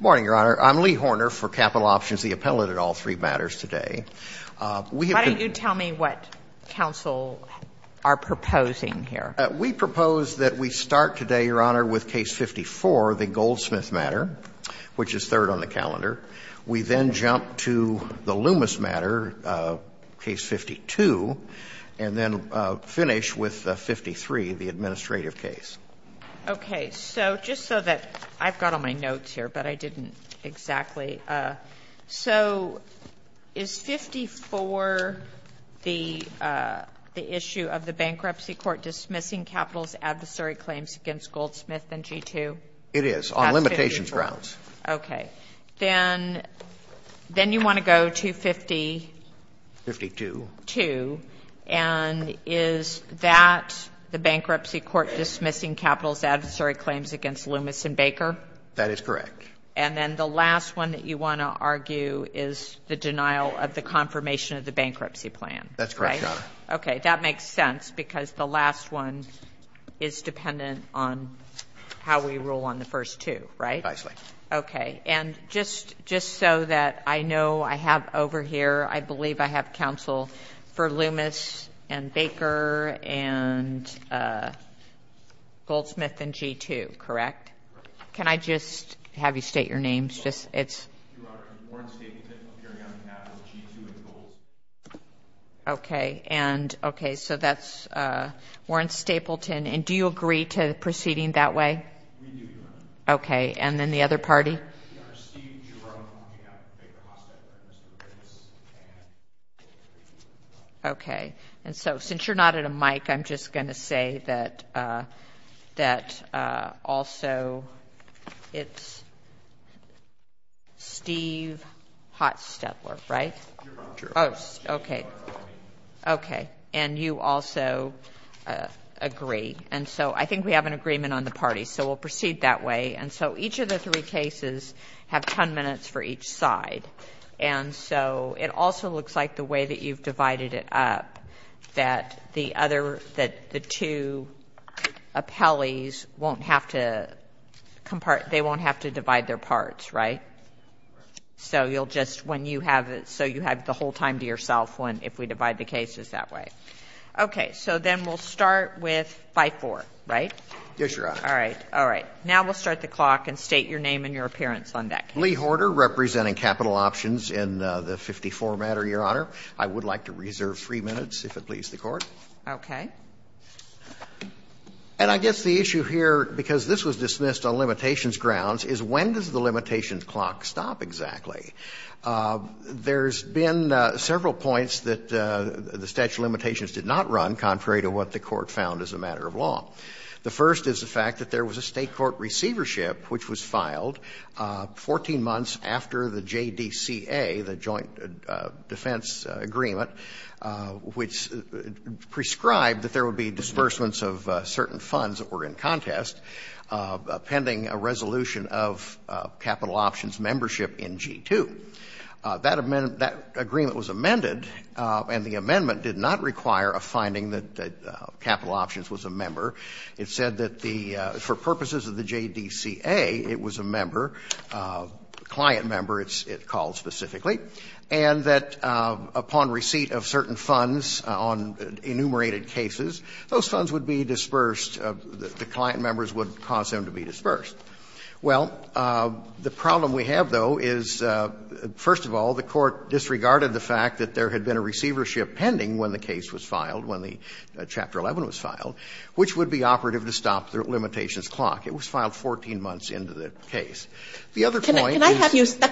Morning, Your Honor. I'm Lee Horner for Capital Options, the appellate at all three matters today. Why don't you tell me what counsel are proposing here? We propose that we start today, Your Honor, with Case 54, the Goldsmith matter, which is third on the calendar. We then jump to the Loomis matter, Case 52, and then finish with 53, the administrative case. Okay. So just so that I've got all my notes here, but I didn't exactly. So is 54 the issue of the bankruptcy court dismissing capital's adversary claims against Goldsmith and G2? It is, on limitations grounds. Okay. Then you want to go to 50? 52. 52. And is that the bankruptcy court dismissing capital's adversary claims against Loomis and Baker? That is correct. And then the last one that you want to argue is the denial of the confirmation of the bankruptcy plan, right? That's correct, Your Honor. Okay. That makes sense, because the last one is dependent on how we rule on the first two, right? Nicely. Okay. And just so that I know I have over here, I believe I have counsel for Loomis and Baker and Goldsmith and G2, correct? Correct. Can I just have you state your names? Your Honor, I'm Warren Stapleton, appearing on behalf of G2 and Goldsmith. Okay. And, okay, so that's Warren Stapleton. And do you agree to proceeding that way? We do, Your Honor. Okay. And then the other party? Your Honor, Steve Giron, on behalf of Baker Hotstepler and Mr. Loomis and G2. Okay. And so since you're not at a mic, I'm just going to say that also it's Steve Hotstepler, right? Giron. Oh, okay. Okay. And you also agree. And so I think we have an agreement on the parties. So we'll proceed that way. And so each of the three cases have ten minutes for each side. And so it also looks like the way that you've divided it up, that the other, that the two appellees won't have to, they won't have to divide their parts, right? Correct. So you'll just, when you have it, so you have the whole time to yourself if we divide the cases that way. Okay. So then we'll start with 54, right? Yes, Your Honor. All right. All right. Now we'll start the clock and state your name and your appearance on that case. Lee Horder, representing Capital Options in the 54 matter, Your Honor. I would like to reserve three minutes, if it pleases the Court. Okay. And I guess the issue here, because this was dismissed on limitations grounds, is when does the limitations clock stop exactly? There's been several points that the statute of limitations did not run, contrary to what the Court found as a matter of law. The first is the fact that there was a State court receivership which was filed 14 months after the JDCA, the Joint Defense Agreement, which prescribed that there would be disbursements of certain funds that were in contest pending a resolution of Capital Options membership in G-2. That agreement was amended, and the amendment did not require a finding that Capital Options was a member. It said that for purposes of the JDCA, it was a member, a client member it called specifically, and that upon receipt of certain funds on enumerated cases, those funds would be disbursed, the client members would cause them to be disbursed. Well, the problem we have, though, is, first of all, the Court disregarded the fact that there had been a receivership pending when the case was filed, when the Chapter 11 was filed, which would be operative to stop the limitations clock. It was filed 14 months into the case. The other point is the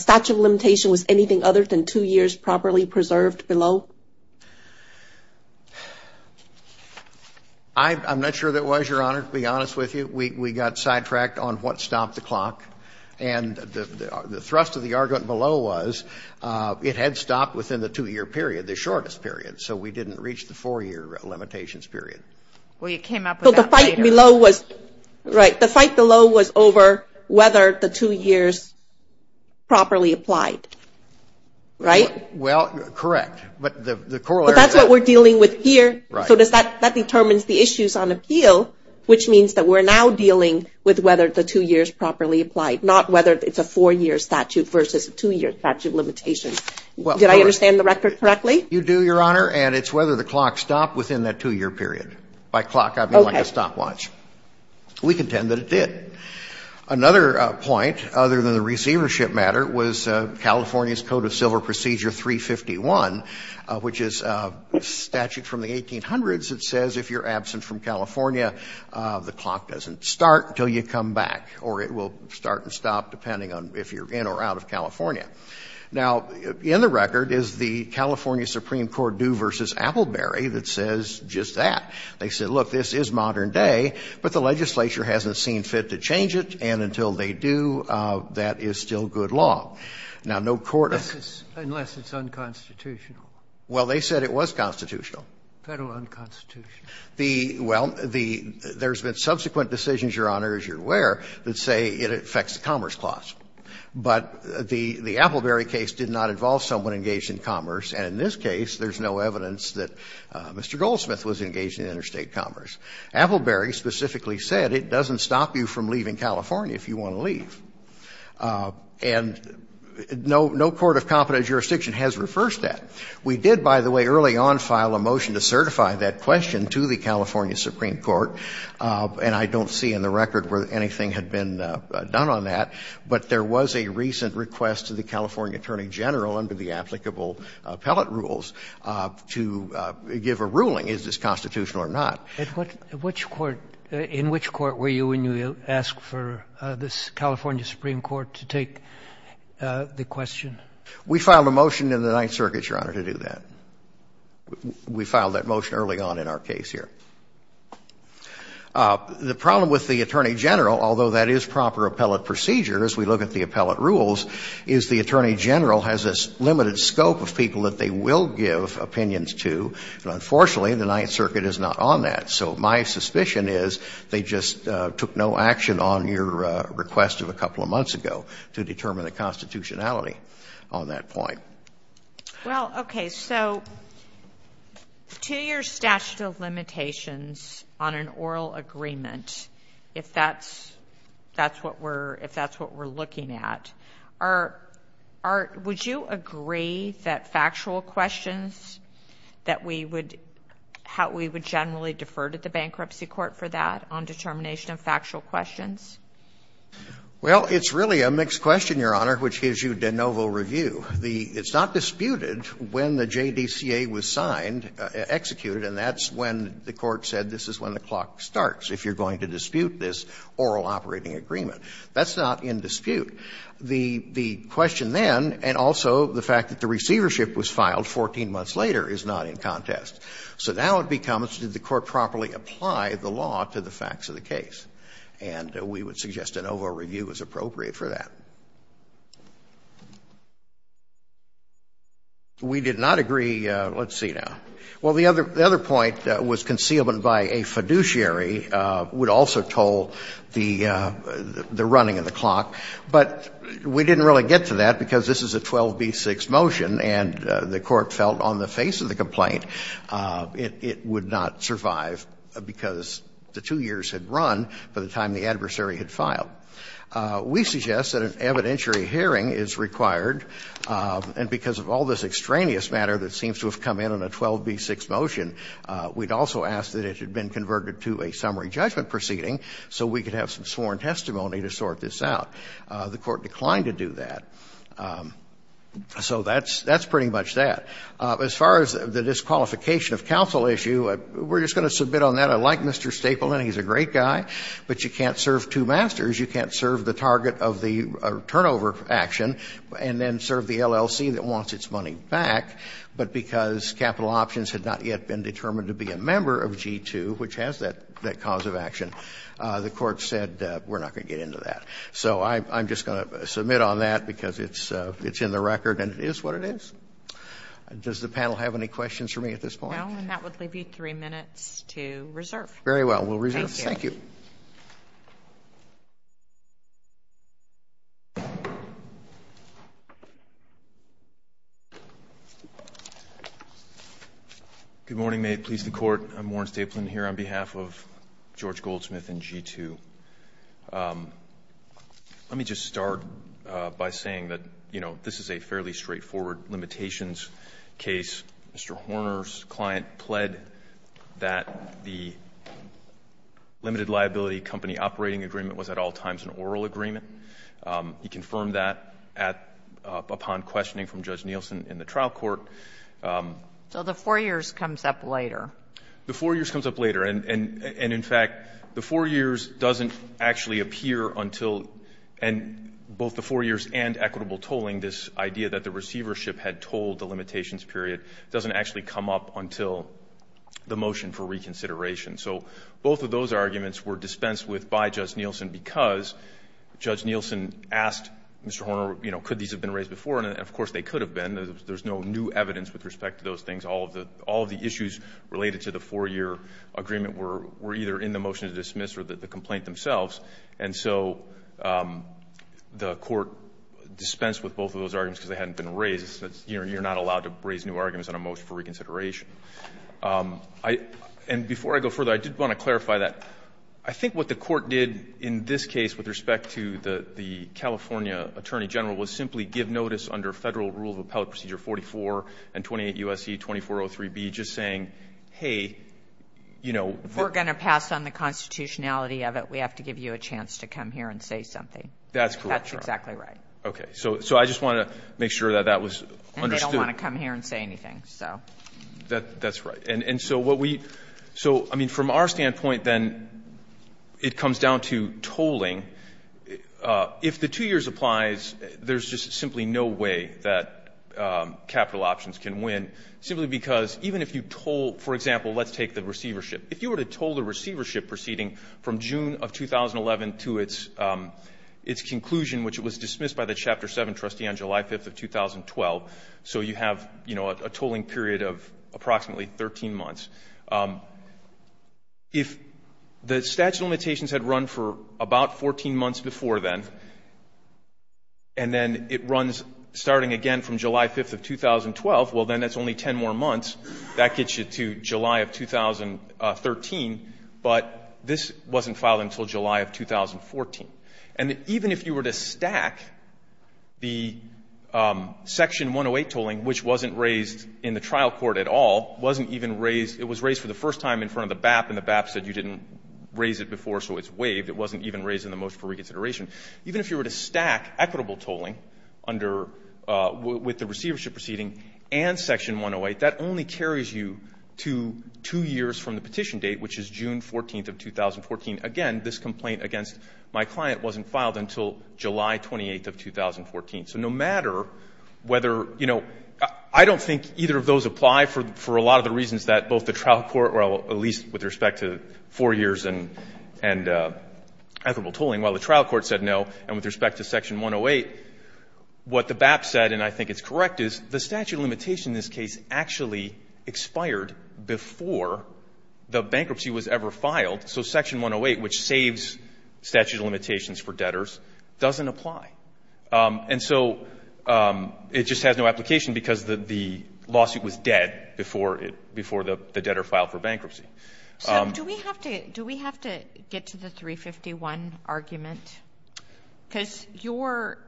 statute of limitations was anything other than two years properly preserved below? I'm not sure that was, Your Honor, to be honest with you. We got sidetracked on what stopped the clock, and the thrust of the argument below was it had stopped within the two-year period, the shortest period, so we didn't reach the four-year limitations period. Well, you came up with that later. The fight below was over whether the two years properly applied, right? Well, correct. But that's what we're dealing with here, so that determines the issues on appeal, which means that we're now dealing with whether the two years properly applied, not whether it's a four-year statute versus a two-year statute of limitations. Did I understand the record correctly? You do, Your Honor, and it's whether the clock stopped within that two-year period. By clock, I mean like a stopwatch. We contend that it did. Another point, other than the receivership matter, was California's Code of Civil Procedure 351, which is a statute from the 1800s that says if you're absent from California, the clock doesn't start until you come back, or it will start and stop depending on if you're in or out of California. Now, in the record is the California Supreme Court due versus Appleberry that says it's just that. They said, look, this is modern day, but the legislature hasn't seen fit to change it, and until they do, that is still good law. Now, no court has to say that. Unless it's unconstitutional. Well, they said it was constitutional. Federal unconstitutional. The – well, the – there's been subsequent decisions, Your Honor, as you're aware, that say it affects the Commerce Clause. But the Appleberry case did not involve someone engaged in commerce, and in this case, there's no evidence that Mr. Goldsmith was engaged in interstate commerce. Appleberry specifically said it doesn't stop you from leaving California if you want to leave. And no – no court of competent jurisdiction has reversed that. We did, by the way, early on file a motion to certify that question to the California Supreme Court, and I don't see in the record where anything had been done on that. But there was a recent request to the California Attorney General under the applicable appellate rules to give a ruling, is this constitutional or not. And what – which court – in which court were you when you asked for this California Supreme Court to take the question? We filed a motion in the Ninth Circuit, Your Honor, to do that. We filed that motion early on in our case here. The problem with the Attorney General, although that is proper appellate procedure as we look at the appellate rules, is the Attorney General has this limited scope of people that they will give opinions to. And unfortunately, the Ninth Circuit is not on that. So my suspicion is they just took no action on your request of a couple of months ago to determine the constitutionality on that point. Well, okay. So to your statute of limitations on an oral agreement, if that's – that's what we're looking at, are – would you agree that factual questions that we would – how we would generally defer to the bankruptcy court for that on determination of factual questions? Well, it's really a mixed question, Your Honor, which gives you de novo review. The – it's not disputed when the JDCA was signed – executed, and that's when the court said this is when the clock starts if you're going to dispute this oral operating agreement. That's not in dispute. The question then, and also the fact that the receivership was filed 14 months later, is not in contest. So now it becomes, did the court properly apply the law to the facts of the case? And we would suggest a de novo review is appropriate for that. We did not agree – let's see now. Well, the other point was concealment by a fiduciary would also toll the running of the clock, but we didn't really get to that because this is a 12b-6 motion and the court felt on the face of the complaint it would not survive because the two years had run by the time the adversary had filed. We suggest that an evidentiary hearing is required, and because of all this extraneous matter that seems to have come in on a 12b-6 motion, we'd also ask that it had been converted to a summary judgment proceeding so we could have some sworn testimony to sort this out. The court declined to do that. So that's – that's pretty much that. As far as the disqualification of counsel issue, we're just going to submit on that. I like Mr. Stapleton. He's a great guy, but you can't serve two masters. You can't serve the target of the turnover action and then serve the LLC that wants its money back, but because capital options had not yet been determined to be a member of G2, which has that cause of action, the court said we're not going to get into that. So I'm just going to submit on that because it's in the record and it is what it is. Does the panel have any questions for me at this point? No, and that would leave you three minutes to reserve. Very well. We'll reserve. Thank you. Thank you. Good morning, May it please the Court. I'm Warren Stapleton here on behalf of George Goldsmith and G2. Let me just start by saying that, you know, this is a fairly straightforward limitations case. Mr. Horner's client pled that the limited liability company operating agreement was at all times an oral agreement. He confirmed that upon questioning from Judge Nielsen in the trial court. So the four years comes up later. The four years comes up later, and in fact, the four years doesn't actually appear until, and both the four years and equitable tolling, this idea that the receivership had told the limitations period doesn't actually come up until the motion for reconsideration. So both of those arguments were dispensed with by Judge Nielsen because Judge Nielsen asked Mr. Horner, you know, could these have been raised before, and of course, they could have been. There's no new evidence with respect to those things. All of the issues related to the four-year agreement were either in the motion to dismiss or the complaint themselves, and so the Court dispensed with both of those arguments because they hadn't been raised. You're not allowed to raise new arguments on a motion for reconsideration. And before I go further, I did want to clarify that. I think what the Court did in this case with respect to the California Attorney General was simply give notice under Federal Rule of Appellate Procedure 44 and 28 U.S.C. 2403b, just saying, hey, you know. If we're going to pass on the constitutionality of it, we have to give you a chance to come here and say something. That's correct, Your Honor. That's exactly right. Okay. So I just wanted to make sure that that was understood. And they don't want to come here and say anything, so. That's right. And so what we so, I mean, from our standpoint, then, it comes down to tolling. If the two years applies, there's just simply no way that capital options can win simply because even if you toll, for example, let's take the receivership. If you were to toll the receivership proceeding from June of 2011 to its conclusion, which was dismissed by the Chapter 7 trustee on July 5th of 2012, so you have, you know, a period of approximately 13 months. If the statute of limitations had run for about 14 months before then, and then it runs starting again from July 5th of 2012, well, then that's only 10 more months. That gets you to July of 2013. But this wasn't filed until July of 2014. And even if you were to stack the Section 108 tolling, which wasn't raised in the trial court at all, wasn't even raised, it was raised for the first time in front of the BAP, and the BAP said you didn't raise it before, so it's waived. It wasn't even raised in the motion for reconsideration. Even if you were to stack equitable tolling under, with the receivership proceeding and Section 108, that only carries you to two years from the petition date, which is June 14th of 2014. Again, this complaint against my client wasn't filed until July 28th of 2014. So no matter whether, you know, I don't think either of those apply for a lot of the reasons that both the trial court, or at least with respect to 4 years and equitable tolling, while the trial court said no, and with respect to Section 108, what the BAP said, and I think it's correct, is the statute of limitation in this case actually expired before the bankruptcy was ever filed. So Section 108, which saves statute of limitations for debtors, doesn't apply. And so it just has no application because the lawsuit was dead before it, before the debtor filed for bankruptcy. So do we have to, do we have to get to the 351 argument? Because your,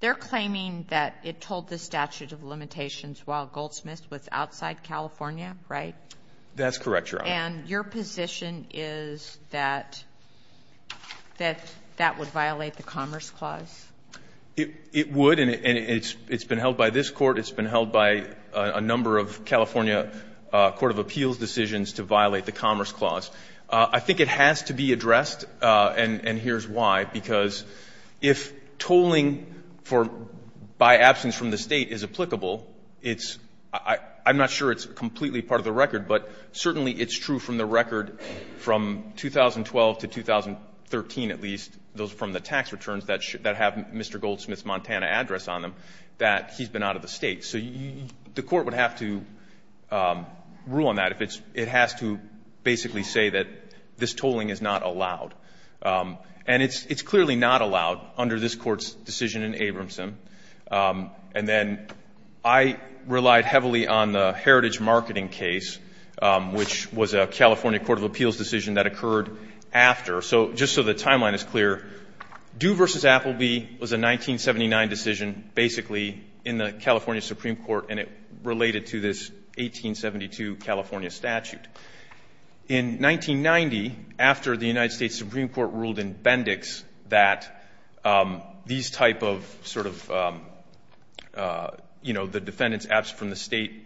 they're claiming that it told the statute of limitations while Goldsmith was outside California, right? That's correct, Your Honor. And your position is that that would violate the Commerce Clause? It would. And it's been held by this Court. It's been held by a number of California court of appeals decisions to violate the Commerce Clause. I think it has to be addressed, and here's why. Because if tolling for, by absence from the State is applicable, it's, I'm not sure it's completely part of the record, but certainly it's true from the record from 2012 to 2013 at least, from the tax returns that have Mr. Goldsmith's Montana address on them, that he's been out of the State. So the Court would have to rule on that if it has to basically say that this tolling is not allowed. And it's clearly not allowed under this Court's decision in Abramson. And then I relied heavily on the Heritage Marketing case, which was a California court of appeals decision that occurred after. So just so the timeline is clear, Due v. Appleby was a 1979 decision basically in the California Supreme Court, and it related to this 1872 California statute. In 1990, after the United States Supreme Court ruled in Bendix that these type of sort of, you know, the defendant's absence from the State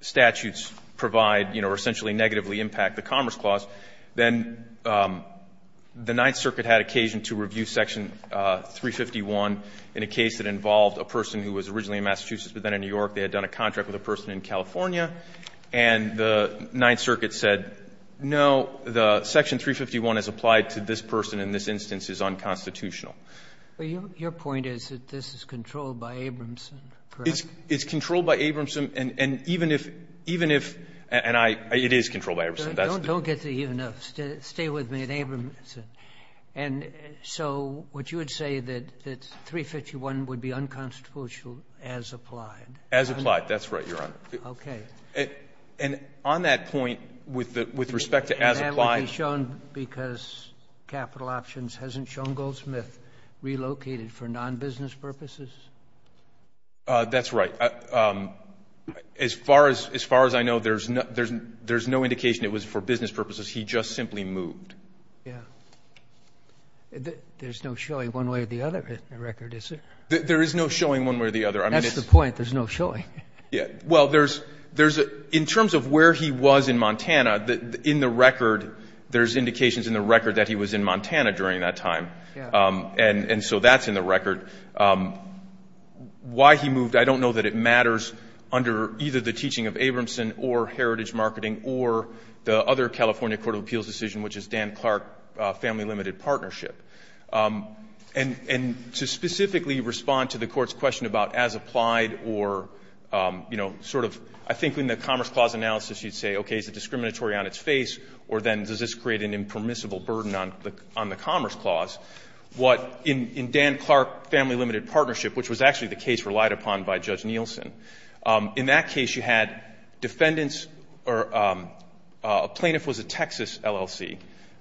statutes provide or essentially negatively impact the Commerce Clause, then the Ninth Circuit had occasion to review Section 351 in a case that involved a person who was originally in Massachusetts but then in New York. They had done a contract with a person in California, and the Ninth Circuit said, no, the Section 351 as applied to this person in this instance is unconstitutional. Your point is that this is controlled by Abramson, correct? It's controlled by Abramson. And even if, even if, and I, it is controlled by Abramson. Don't get the even-ups. Stay with me on Abramson. And so would you say that 351 would be unconstitutional as applied? As applied. That's right, Your Honor. And on that point, with respect to as applied. Would it be shown because Capital Options hasn't shown Goldsmith relocated for non-business purposes? That's right. As far as I know, there's no indication it was for business purposes. He just simply moved. Yeah. There's no showing one way or the other in the record, is there? There is no showing one way or the other. That's the point. There's no showing. Well, there's, in terms of where he was in Montana, in the record, there's indications in the record that he was in Montana during that time. And so that's in the record. Why he moved, I don't know that it matters under either the teaching of Abramson or Heritage Marketing or the other California Court of Appeals decision, which is Dan Clark Family Limited Partnership. And to specifically respond to the Court's question about as applied or, you know, sort of I think in the Commerce Clause analysis you'd say, okay, is it discriminatory on its face or then does this create an impermissible burden on the Commerce Clause? What in Dan Clark Family Limited Partnership, which was actually the case relied upon by Judge Nielsen, in that case you had defendants or a plaintiff was a Texas LLC.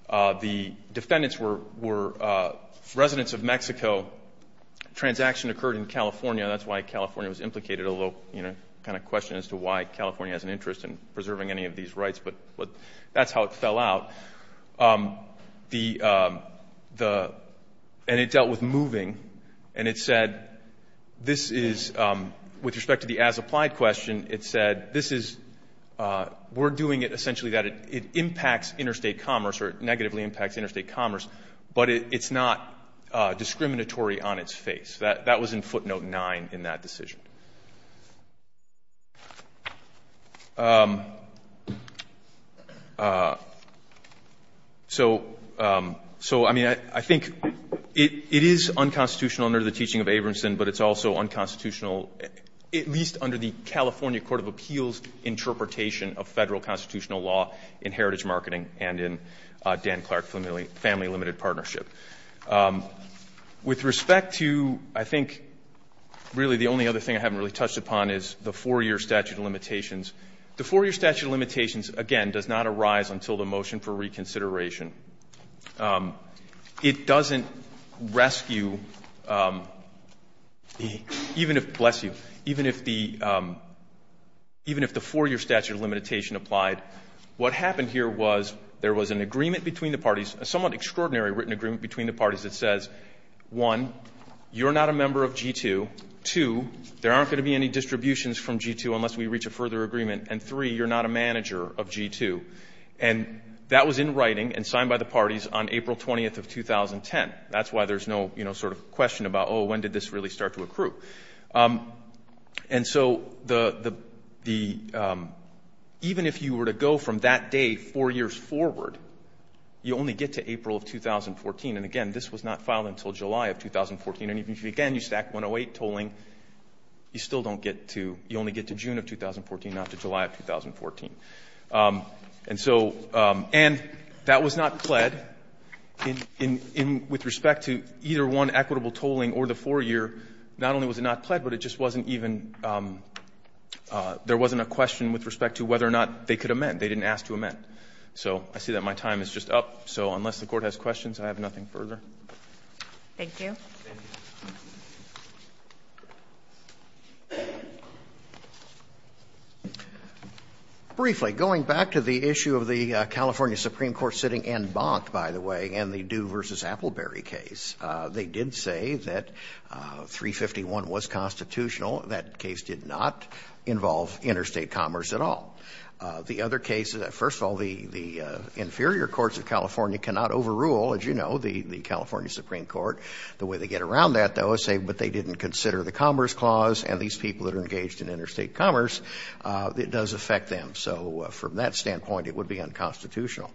The defendants were residents of Mexico. Transaction occurred in California. That's why California was implicated, a little, you know, kind of question as to why California has an interest in preserving any of these rights. But that's how it fell out. And it dealt with moving. And it said this is, with respect to the as applied question, it said this is, we're doing it essentially that it impacts interstate commerce or it negatively impacts interstate commerce, but it's not discriminatory on its face. That was in footnote nine in that decision. So, I mean, I think it is unconstitutional under the teaching of Abramson, but it's also unconstitutional at least under the California Court of Appeals interpretation of Federal constitutional law in heritage marketing and in Dan Clark Family Limited Partnership. With respect to, I think, really the only other thing I haven't really touched upon is the four-year statute of limitations. The four-year statute of limitations, again, does not arise until the motion for reconsideration. It doesn't rescue even if, bless you, even if the four-year statute of limitation applied. What happened here was there was an agreement between the parties, a somewhat extraordinary written agreement between the parties that says, one, you're not a member of G-2, two, there aren't going to be any distributions from G-2 unless we reach a further agreement, and three, you're not a manager of G-2. And that was in writing and signed by the parties on April 20th of 2010. That's why there's no sort of question about, oh, when did this really start to accrue? And so even if you were to go from that day four years forward, you only get to April of 2014. And, again, this was not filed until July of 2014. And even if, again, you stack 108 tolling, you still don't get to, you only get to June of 2014, not to July of 2014. And so, and that was not pled. With respect to either one equitable tolling or the four-year, not only was it not pled, but it just wasn't even, there wasn't a question with respect to whether or not they could amend. They didn't ask to amend. So I see that my time is just up. So unless the Court has questions, I have nothing further. Thank you. Thank you. Briefly, going back to the issue of the California Supreme Court sitting en banc, by the way, and the Due v. Appleberry case, they did say that 351 was constitutional. That case did not involve interstate commerce at all. The other case, first of all, the inferior courts of California cannot overrule, as you know, the California Supreme Court. The way they get around that, though, is say, but they didn't consider the Commerce Clause, and these people that are engaged in interstate commerce, it does affect them. So from that standpoint, it would be unconstitutional.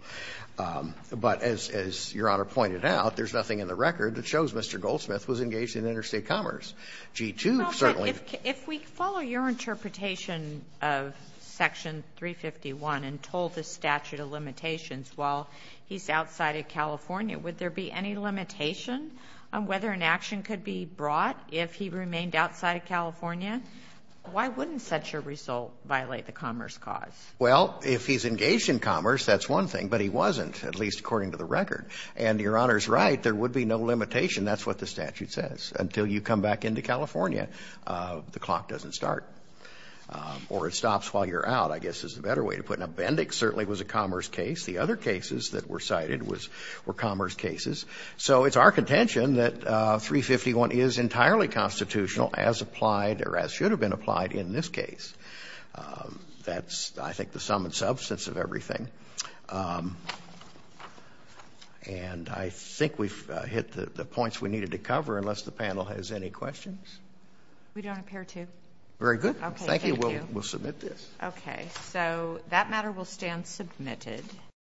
But as Your Honor pointed out, there's nothing in the record that shows Mr. Goldsmith was engaged in interstate commerce. G-2, certainly. Well, but if we follow your interpretation of Section 351 and told the statute while he's outside of California, would there be any limitation on whether an action could be brought if he remained outside of California? Why wouldn't such a result violate the Commerce Clause? Well, if he's engaged in commerce, that's one thing. But he wasn't, at least according to the record. And Your Honor's right, there would be no limitation. That's what the statute says. Until you come back into California, the clock doesn't start. Or it stops while you're out, I guess, is the better way to put it. Bendix certainly was a commerce case. The other cases that were cited were commerce cases. So it's our contention that 351 is entirely constitutional as applied or as should have been applied in this case. That's, I think, the sum and substance of everything. And I think we've hit the points we needed to cover, unless the panel has any questions. We don't appear to. Very good. Thank you. We'll submit this. Okay. So that matter will stand submitted.